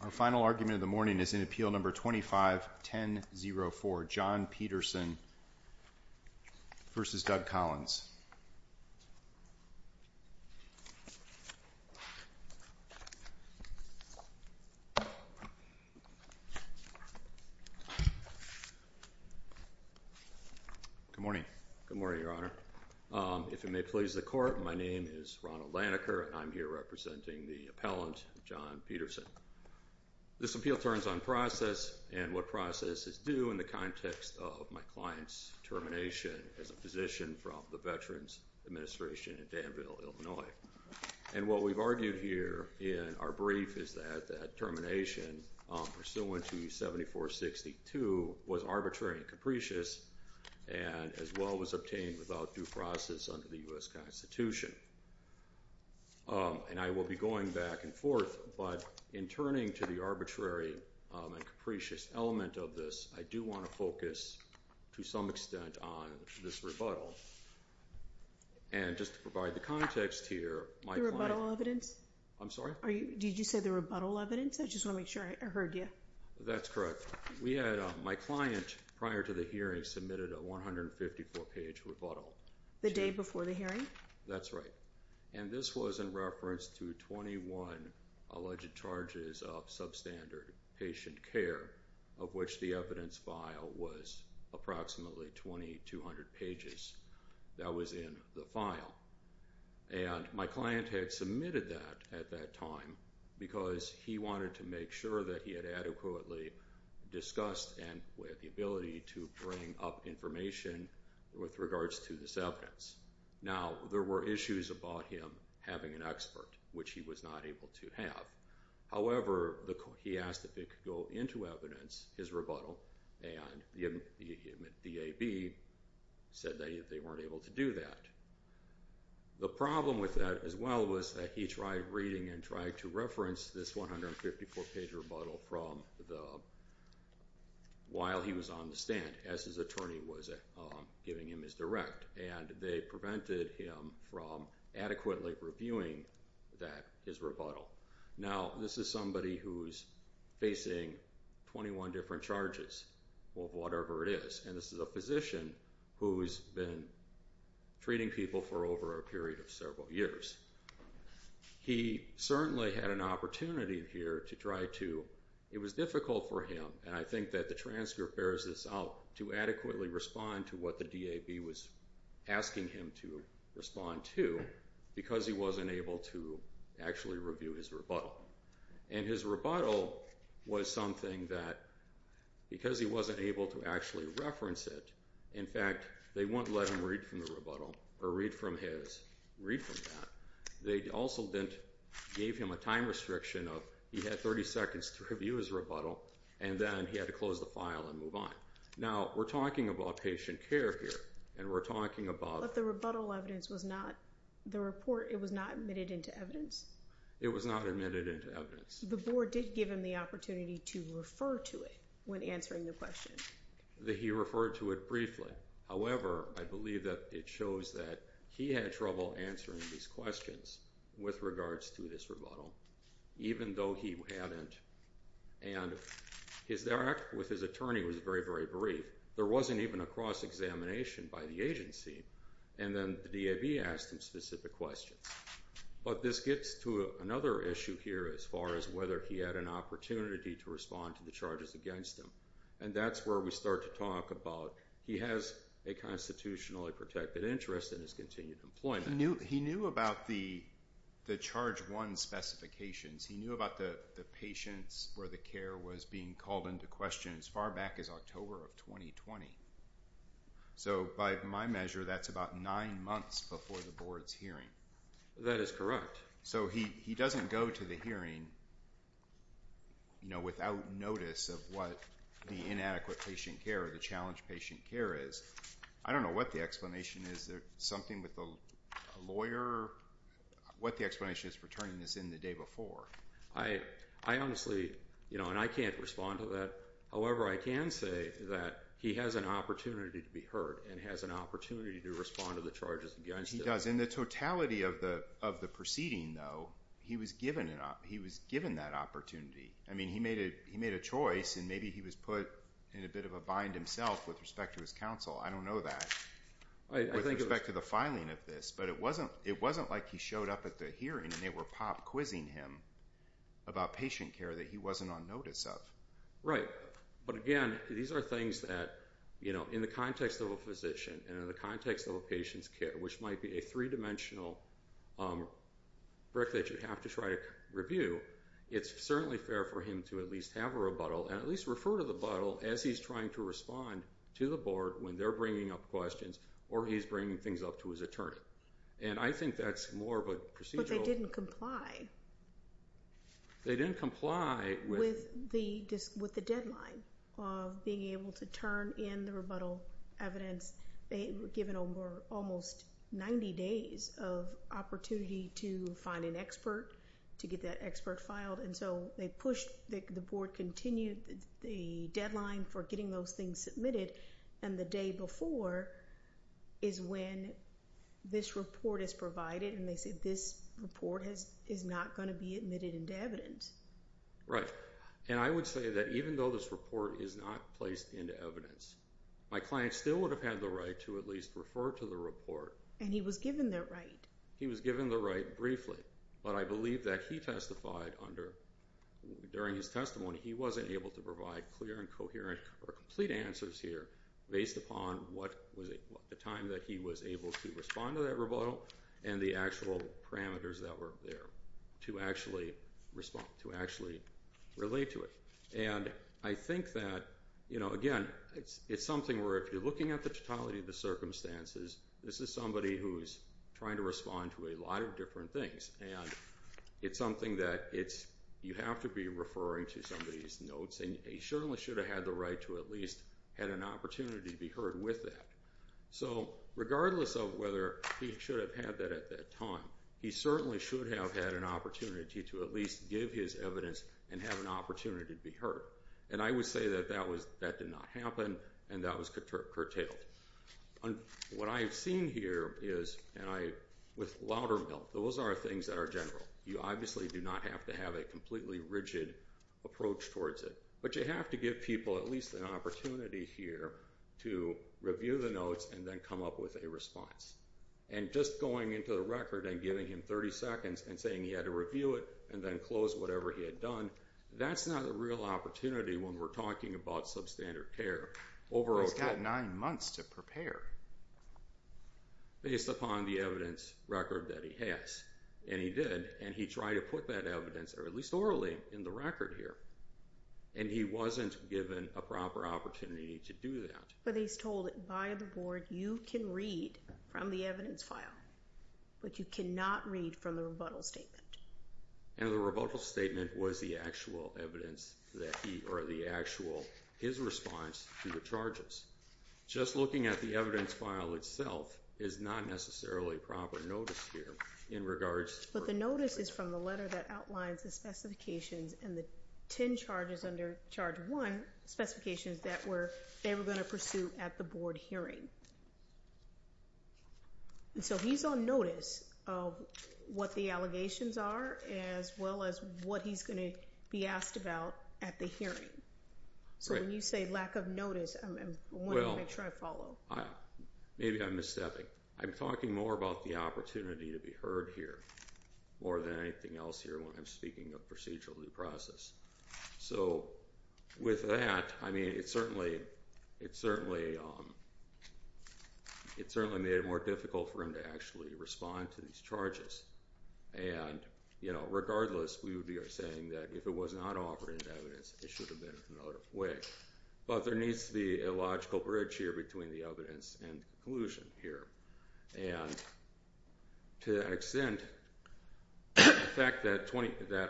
Our final argument of the morning is in Appeal No. 25-1004, John Peterson v. Douglas A. Collins. Good morning. Good morning, Your Honor. If it may please the Court, my name is Ronald Laniker and I'm here representing the appellant, John Peterson. This appeal turns on process and what process is due in the context of my client's termination as a physician from the Veterans Administration in Danville, Illinois. And what we've argued here in our brief is that that termination pursuant to 74-62 was arbitrary and capricious and as well was obtained without due process under the U.S. Constitution. And I will be going back and forth, but in turning to the arbitrary and capricious element of this, I do want to focus to some extent on this rebuttal. And just to provide the context here, my client... The rebuttal evidence? I'm sorry? Did you say the rebuttal evidence? I just want to make sure I heard you. That's correct. My client, prior to the hearing, submitted a 154-page rebuttal. The day before the hearing? That's right. And this was in reference to 21 alleged charges of substandard patient care, of which the evidence file was approximately 2,200 pages. That was in the file. And my client had submitted that at that time because he wanted to make sure that he had adequately discussed and had the ability to bring up information with regards to this evidence. Now, there were issues about him having an expert, which he was not able to have. However, he asked if it could go into evidence, his rebuttal, and the DAB said that they weren't able to do that. The problem with that as well was that he tried reading and tried to reference this 154-page rebuttal while he was on the stand as his attorney was giving him his direct. And they prevented him from adequately reviewing that, his rebuttal. Now, this is somebody who's facing 21 different charges of whatever it is. And this is a physician who's been treating people for over a period of several years. He certainly had an opportunity here to try to. It was difficult for him, and I think that the transcript bears this out, to adequately respond to what the DAB was asking him to respond to because he wasn't able to actually review his rebuttal. And his rebuttal was something that, because he wasn't able to actually reference it, in fact, they wouldn't let him read from the rebuttal or read from his, read from that. They also didn't give him a time restriction of, he had 30 seconds to review his rebuttal, and then he had to close the file and move on. Now, we're talking about patient care here, and we're talking about... But the rebuttal evidence was not, the report, it was not admitted into evidence? It was not admitted into evidence. The board did give him the opportunity to refer to it when answering the question. He referred to it briefly. However, I believe that it shows that he had trouble answering these questions with regards to this rebuttal, even though he hadn't. And his interact with his attorney was very, very brief. There wasn't even a cross-examination by the agency, and then the DAB asked him specific questions. But this gets to another issue here as far as whether he had an opportunity to respond to the charges against him. And that's where we start to talk about, he has a constitutionally protected interest in his continued employment. He knew about the Charge 1 specifications. He knew about the patients where the care was being called into question as far back as October of 2020. So by my measure, that's about nine months before the board's hearing. That is correct. So he doesn't go to the hearing without notice of what the inadequate patient care or the challenged patient care is. I don't know what the explanation is. Is there something with the lawyer? What the explanation is for turning this in the day before? I honestly, and I can't respond to that. However, I can say that he has an opportunity to be heard and has an opportunity to respond to the charges against him. He does. In the totality of the proceeding, though, he was given that opportunity. I mean, he made a choice, and maybe he was put in a bit of a bind himself with respect to his counsel. I don't know that with respect to the filing of this. But it wasn't like he showed up at the hearing and they were pop quizzing him about patient care that he wasn't on notice of. Right. But again, these are things that, you know, in the context of a physician and in the context of a patient's care, which might be a three-dimensional brick that you have to try to review, it's certainly fair for him to at least have a rebuttal and at least refer to the butthole as he's trying to respond to the board when they're bringing up questions or he's bringing things up to his attorney. And I think that's more of a procedural. But they didn't comply. They didn't comply with. With the deadline of being able to turn in the rebuttal evidence. They were given almost 90 days of opportunity to find an expert, to get that expert filed. And so they pushed, the board continued the deadline for getting those things submitted, and the day before is when this report is provided. And they said this report is not going to be admitted into evidence. Right. And I would say that even though this report is not placed into evidence, my client still would have had the right to at least refer to the report. And he was given that right. He was given the right briefly. But I believe that he testified under, during his testimony, he wasn't able to provide clear and coherent or complete answers here based upon the time that he was able to respond to that rebuttal and the actual parameters that were there to actually relate to it. And I think that, you know, again, it's something where if you're looking at the totality of the circumstances, this is somebody who's trying to respond to a lot of different things. And it's something that you have to be referring to somebody's notes. And he certainly should have had the right to at least had an opportunity to be heard with that. So regardless of whether he should have had that at that time, he certainly should have had an opportunity to at least give his evidence and have an opportunity to be heard. And I would say that that did not happen, and that was curtailed. What I've seen here is, and I, with Loudermilk, those are things that are general. You obviously do not have to have a completely rigid approach towards it. But you have to give people at least an opportunity here to review the notes and then come up with a response. And just going into the record and giving him 30 seconds and saying he had to review it and then close whatever he had done, that's not a real opportunity when we're talking about substandard care. He's got nine months to prepare. Based upon the evidence record that he has. And he did, and he tried to put that evidence, or at least orally, in the record here. And he wasn't given a proper opportunity to do that. But he's told by the board, you can read from the evidence file, but you cannot read from the rebuttal statement. And the rebuttal statement was the actual evidence that he, or the actual, his response to the charges. Just looking at the evidence file itself is not necessarily proper notice here in regards. But the notice is from the letter that outlines the specifications and the ten charges under charge one, specifications that they were going to pursue at the board hearing. And so he's on notice of what the allegations are as well as what he's going to be asked about at the hearing. So when you say lack of notice, I want to make sure I follow. Maybe I'm misstepping. I'm talking more about the opportunity to be heard here more than anything else here when I'm speaking of procedural due process. So with that, it certainly made it more difficult for him to actually respond to these charges. And regardless, we would be saying that if it was not offered in evidence, it should have been another way. But there needs to be a logical bridge here between the evidence and the conclusion here. And to that extent, the fact that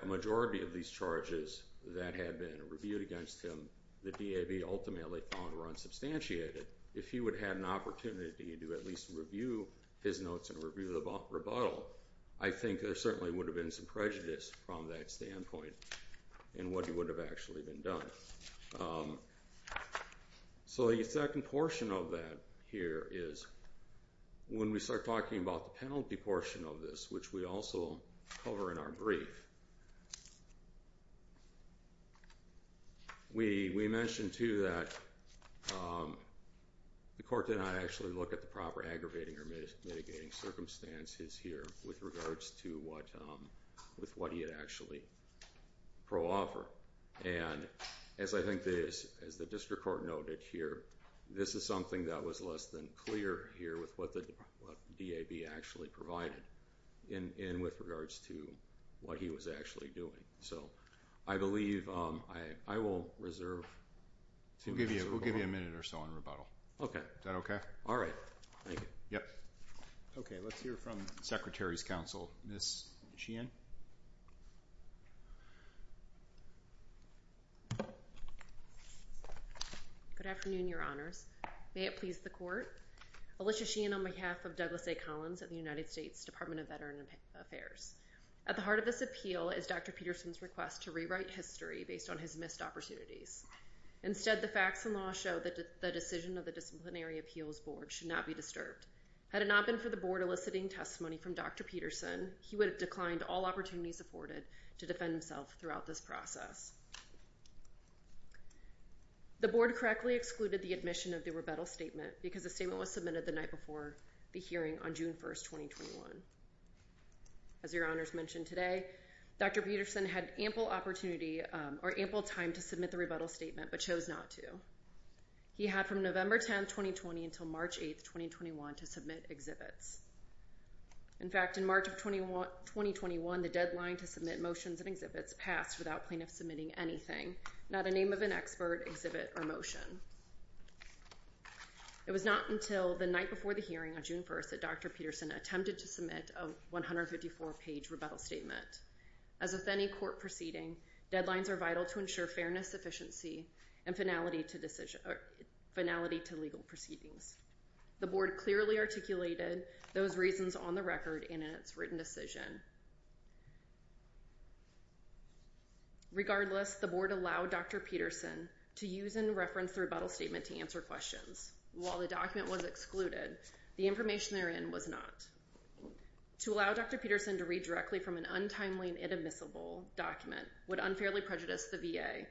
a majority of these charges that had been reviewed against him, the DAB ultimately found were unsubstantiated, if he would have had an opportunity to at least review his notes and review the rebuttal, I think there certainly would have been some prejudice from that standpoint in what he would have actually been done. So the second portion of that here is when we start talking about the penalty portion of this, which we also cover in our brief, we mention, too, that the court did not actually look at the proper aggravating or mitigating circumstances here with regards to what he had actually pro-offered. And as I think the district court noted here, this is something that was less than clear here with what the DAB actually provided and with regards to what he was actually doing. So I believe I will reserve. We'll give you a minute or so on rebuttal. Okay. Is that okay? All right. Thank you. Yep. Okay. Let's hear from Secretary's Counsel, Ms. Sheehan. Good afternoon, Your Honors. May it please the Court. Alicia Sheehan on behalf of Douglas A. Collins of the United States Department of Veterans Affairs. At the heart of this appeal is Dr. Peterson's request to rewrite history based on his missed opportunities. Instead, the facts and law show that the decision of the Disciplinary Appeals Board should not be disturbed. Had it not been for the Board eliciting testimony from Dr. Peterson, he would have declined all opportunities afforded to defend himself throughout this process. The Board correctly excluded the admission of the rebuttal statement because the statement was submitted the night before the hearing on June 1, 2021. As Your Honors mentioned today, Dr. Peterson had ample opportunity or ample time to submit the rebuttal statement but chose not to. He had from November 10, 2020 until March 8, 2021 to submit exhibits. In fact, in March of 2021, the deadline to submit motions and exhibits passed without plaintiffs submitting anything, not a name of an expert, exhibit, or motion. It was not until the night before the hearing on June 1 that Dr. Peterson attempted to submit a 154-page rebuttal statement. As with any court proceeding, deadlines are vital to ensure fairness, efficiency, and finality to legal proceedings. The Board clearly articulated those reasons on the record and in its written decision. Regardless, the Board allowed Dr. Peterson to use and reference the rebuttal statement to answer questions. While the document was excluded, the information therein was not. To allow Dr. Peterson to read directly from an untimely and inadmissible document would unfairly prejudice the VA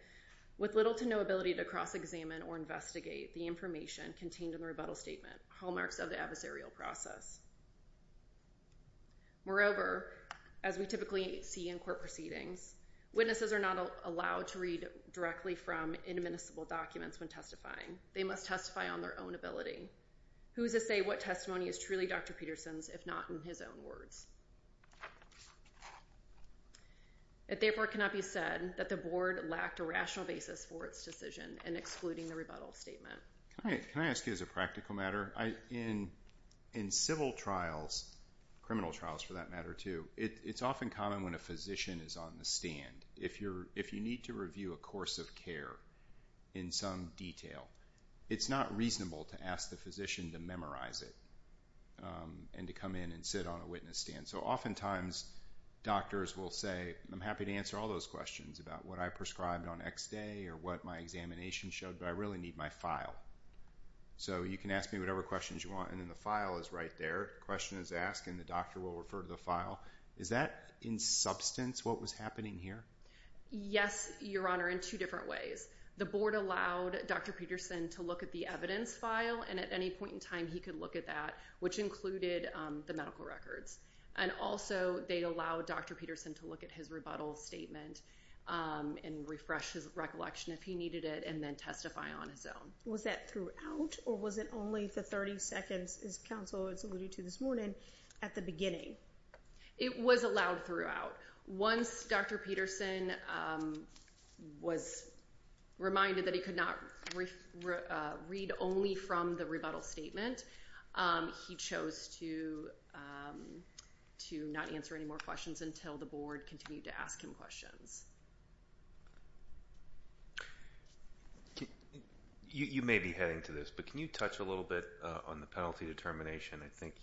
with little to no ability to cross-examine or investigate the information contained in the rebuttal statement, hallmarks of the adversarial process. Moreover, as we typically see in court proceedings, witnesses are not allowed to read directly from inadmissible documents when testifying. They must testify on their own ability. Who is to say what testimony is truly Dr. Peterson's if not in his own words? It therefore cannot be said that the Board lacked a rational basis for its decision in excluding the rebuttal statement. Can I ask you as a practical matter? In civil trials, criminal trials for that matter too, it's often common when a physician is on the stand, if you need to review a course of care in some detail, it's not reasonable to ask the physician to memorize it and to come in and sit on a witness stand. So oftentimes, doctors will say, I'm happy to answer all those questions about what I prescribed on X day or what my examination showed, but I really need my file. So you can ask me whatever questions you want and then the file is right there. The question is asked and the doctor will refer to the file. Is that in substance what was happening here? Yes, Your Honor, in two different ways. The Board allowed Dr. Peterson to look at the evidence file and at any point in time he could look at that, which included the medical records. And also they allowed Dr. Peterson to look at his rebuttal statement and refresh his recollection if he needed it and then testify on his own. Was that throughout or was it only the 30 seconds, as counsel has alluded to this morning, at the beginning? It was allowed throughout. Once Dr. Peterson was reminded that he could not read only from the rebuttal statement, he chose to not answer any more questions until the Board continued to ask him questions. You may be heading to this, but can you touch a little bit on the penalty determination? I think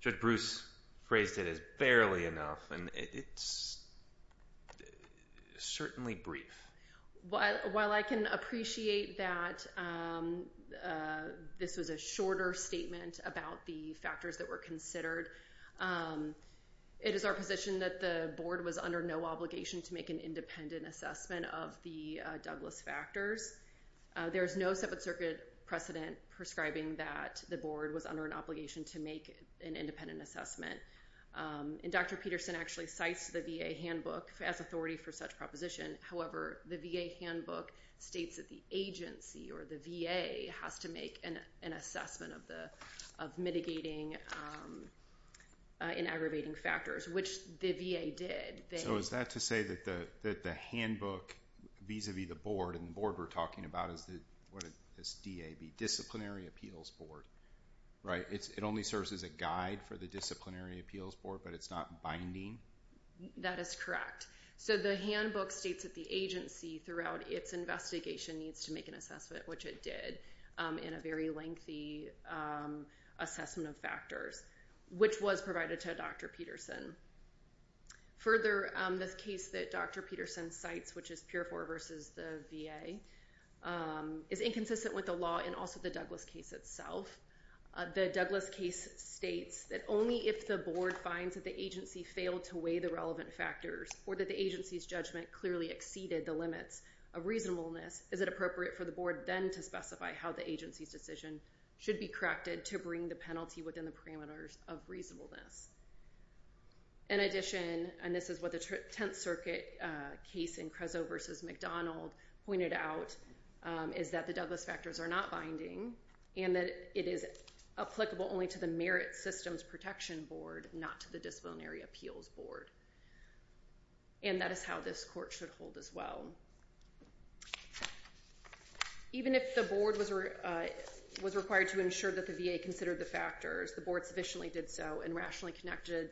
Judge Bruce phrased it as barely enough and it's certainly brief. While I can appreciate that this was a shorter statement about the factors that were considered, it is our position that the Board was under no obligation to make an independent assessment of the Douglas factors. There is no Seventh Circuit precedent prescribing that the Board was under an obligation to make an independent assessment. And Dr. Peterson actually cites the VA handbook as authority for such proposition. However, the VA handbook states that the agency or the VA has to make an assessment of mitigating and aggravating factors, which the VA did. So is that to say that the handbook vis-a-vis the Board, and the Board we're talking about is the DAB, Disciplinary Appeals Board, right? It only serves as a guide for the Disciplinary Appeals Board, but it's not binding? That is correct. So the handbook states that the agency, throughout its investigation, needs to make an assessment, which it did, in a very lengthy assessment of factors, which was provided to Dr. Peterson. Further, this case that Dr. Peterson cites, which is PURE IV versus the VA, is inconsistent with the law and also the Douglas case itself. The Douglas case states that only if the Board finds that the agency failed to weigh the relevant factors, or that the agency's judgment clearly exceeded the limits of reasonableness, is it appropriate for the Board then to specify how the agency's decision should be corrected to bring the penalty within the parameters of reasonableness. In addition, and this is what the Tenth Circuit case in Crezzo versus McDonald pointed out, is that the Douglas factors are not binding, and that it is applicable only to the Merit Systems Protection Board, not to the Disciplinary Appeals Board. And that is how this Court should hold as well. Even if the Board was required to ensure that the VA considered the factors, the Board sufficiently did so, and rationally connected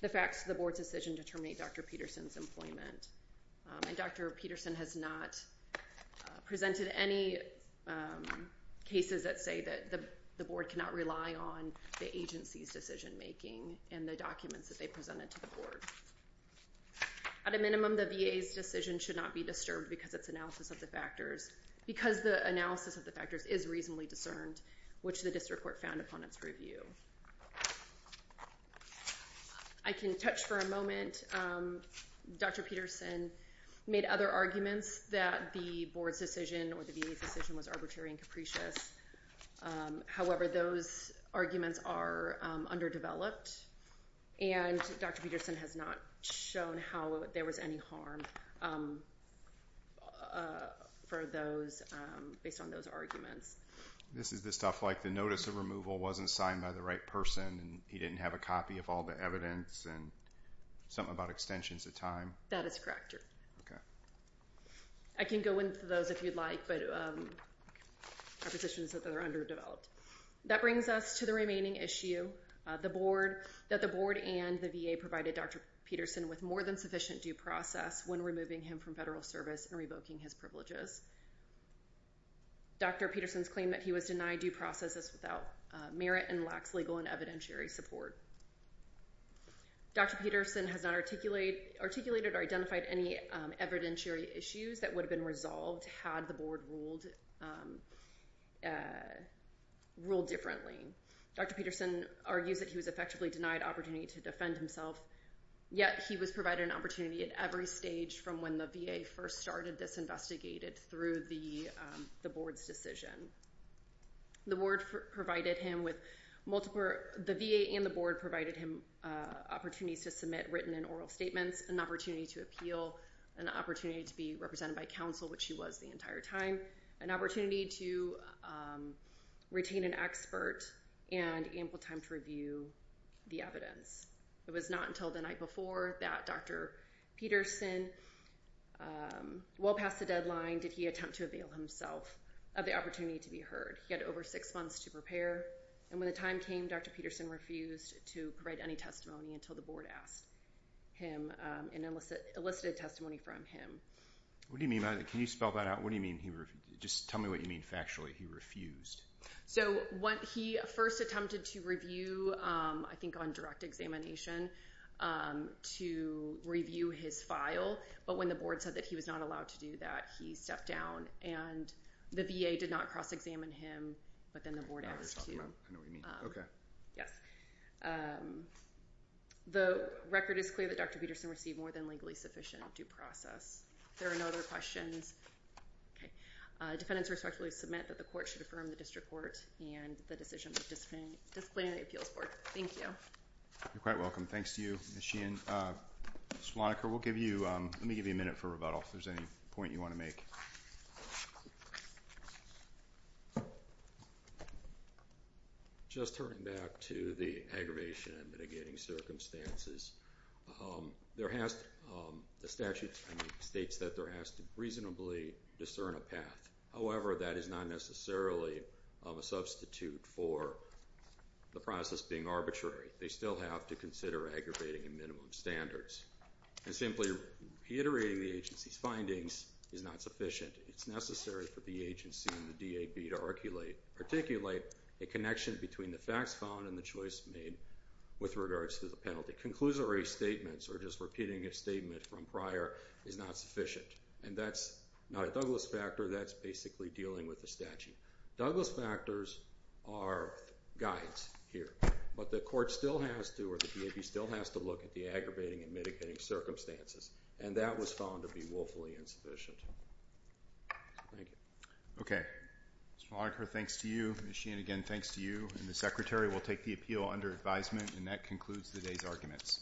the facts to the Board's decision to terminate Dr. Peterson's employment. And Dr. Peterson has not presented any cases that say that the Board cannot rely on the agency's decision making and the documents that they presented to the Board. At a minimum, the VA's decision should not be disturbed because the analysis of the factors is reasonably discerned, which the District Court found upon its review. I can touch for a moment. Dr. Peterson made other arguments that the Board's decision or the VA's decision was arbitrary and capricious. However, those arguments are underdeveloped, and Dr. Peterson has not shown how there was any harm for those, based on those arguments. This is the stuff like the notice of removal wasn't signed by the right person, and he didn't have a copy of all the evidence, and something about extensions of time. That is correct. Okay. I can go into those if you'd like, but propositions that are underdeveloped. That brings us to the remaining issue, that the Board and the VA provided Dr. Peterson with more than sufficient due process when removing him from federal service and revoking his privileges. Dr. Peterson's claim that he was denied due process is without merit and lacks legal and evidentiary support. Dr. Peterson has not articulated or identified any evidentiary issues that would have been resolved had the Board ruled differently. Dr. Peterson argues that he was effectively denied opportunity to defend himself, yet he was provided an opportunity at every stage from when the VA first started this investigation through the Board's decision. The Board provided him with multiple—the VA and the Board provided him opportunities to submit written and oral statements, an opportunity to appeal, an opportunity to be represented by counsel, which he was the entire time, an opportunity to retain an expert, and ample time to review the evidence. It was not until the night before that Dr. Peterson, well past the deadline, did he attempt to avail himself of the opportunity to be heard. He had over six months to prepare, and when the time came, Dr. Peterson refused to provide any testimony until the Board asked him and elicited testimony from him. What do you mean by that? Can you spell that out? What do you mean he refused? Just tell me what you mean factually, he refused. So when he first attempted to review, I think on direct examination, to review his file, but when the Board said that he was not allowed to do that, he stepped down, and the VA did not cross-examine him, but then the Board asked him to. I know what you mean. Okay. Yes. The record is clear that Dr. Peterson received more than legally sufficient due process. There are no other questions. Defendants respectfully submit that the court should affirm the district court and the decision of the Disciplinary Appeals Board. Thank you. You're quite welcome. Thanks to you, Ms. Sheehan. Ms. Flanniker, let me give you a minute for rebuttal if there's any point you want to make. Just turning back to the aggravation and mitigating circumstances, the statute states that they're asked to reasonably discern a path. However, that is not necessarily a substitute for the process being arbitrary. They still have to consider aggravating and minimum standards. And simply reiterating the agency's findings is not sufficient. It's necessary for the agency and the DAB to articulate a connection between the facts found and the choice made with regards to the penalty. Conclusory statements or just repeating a statement from prior is not sufficient. And that's not a Douglas factor. That's basically dealing with the statute. Douglas factors are guides here. But the court still has to or the DAB still has to look at the aggravating and mitigating circumstances. And that was found to be woefully insufficient. Thank you. Okay. Ms. Flanniker, thanks to you. Ms. Sheehan, again, thanks to you. And the Secretary will take the appeal under advisement. And that concludes today's arguments.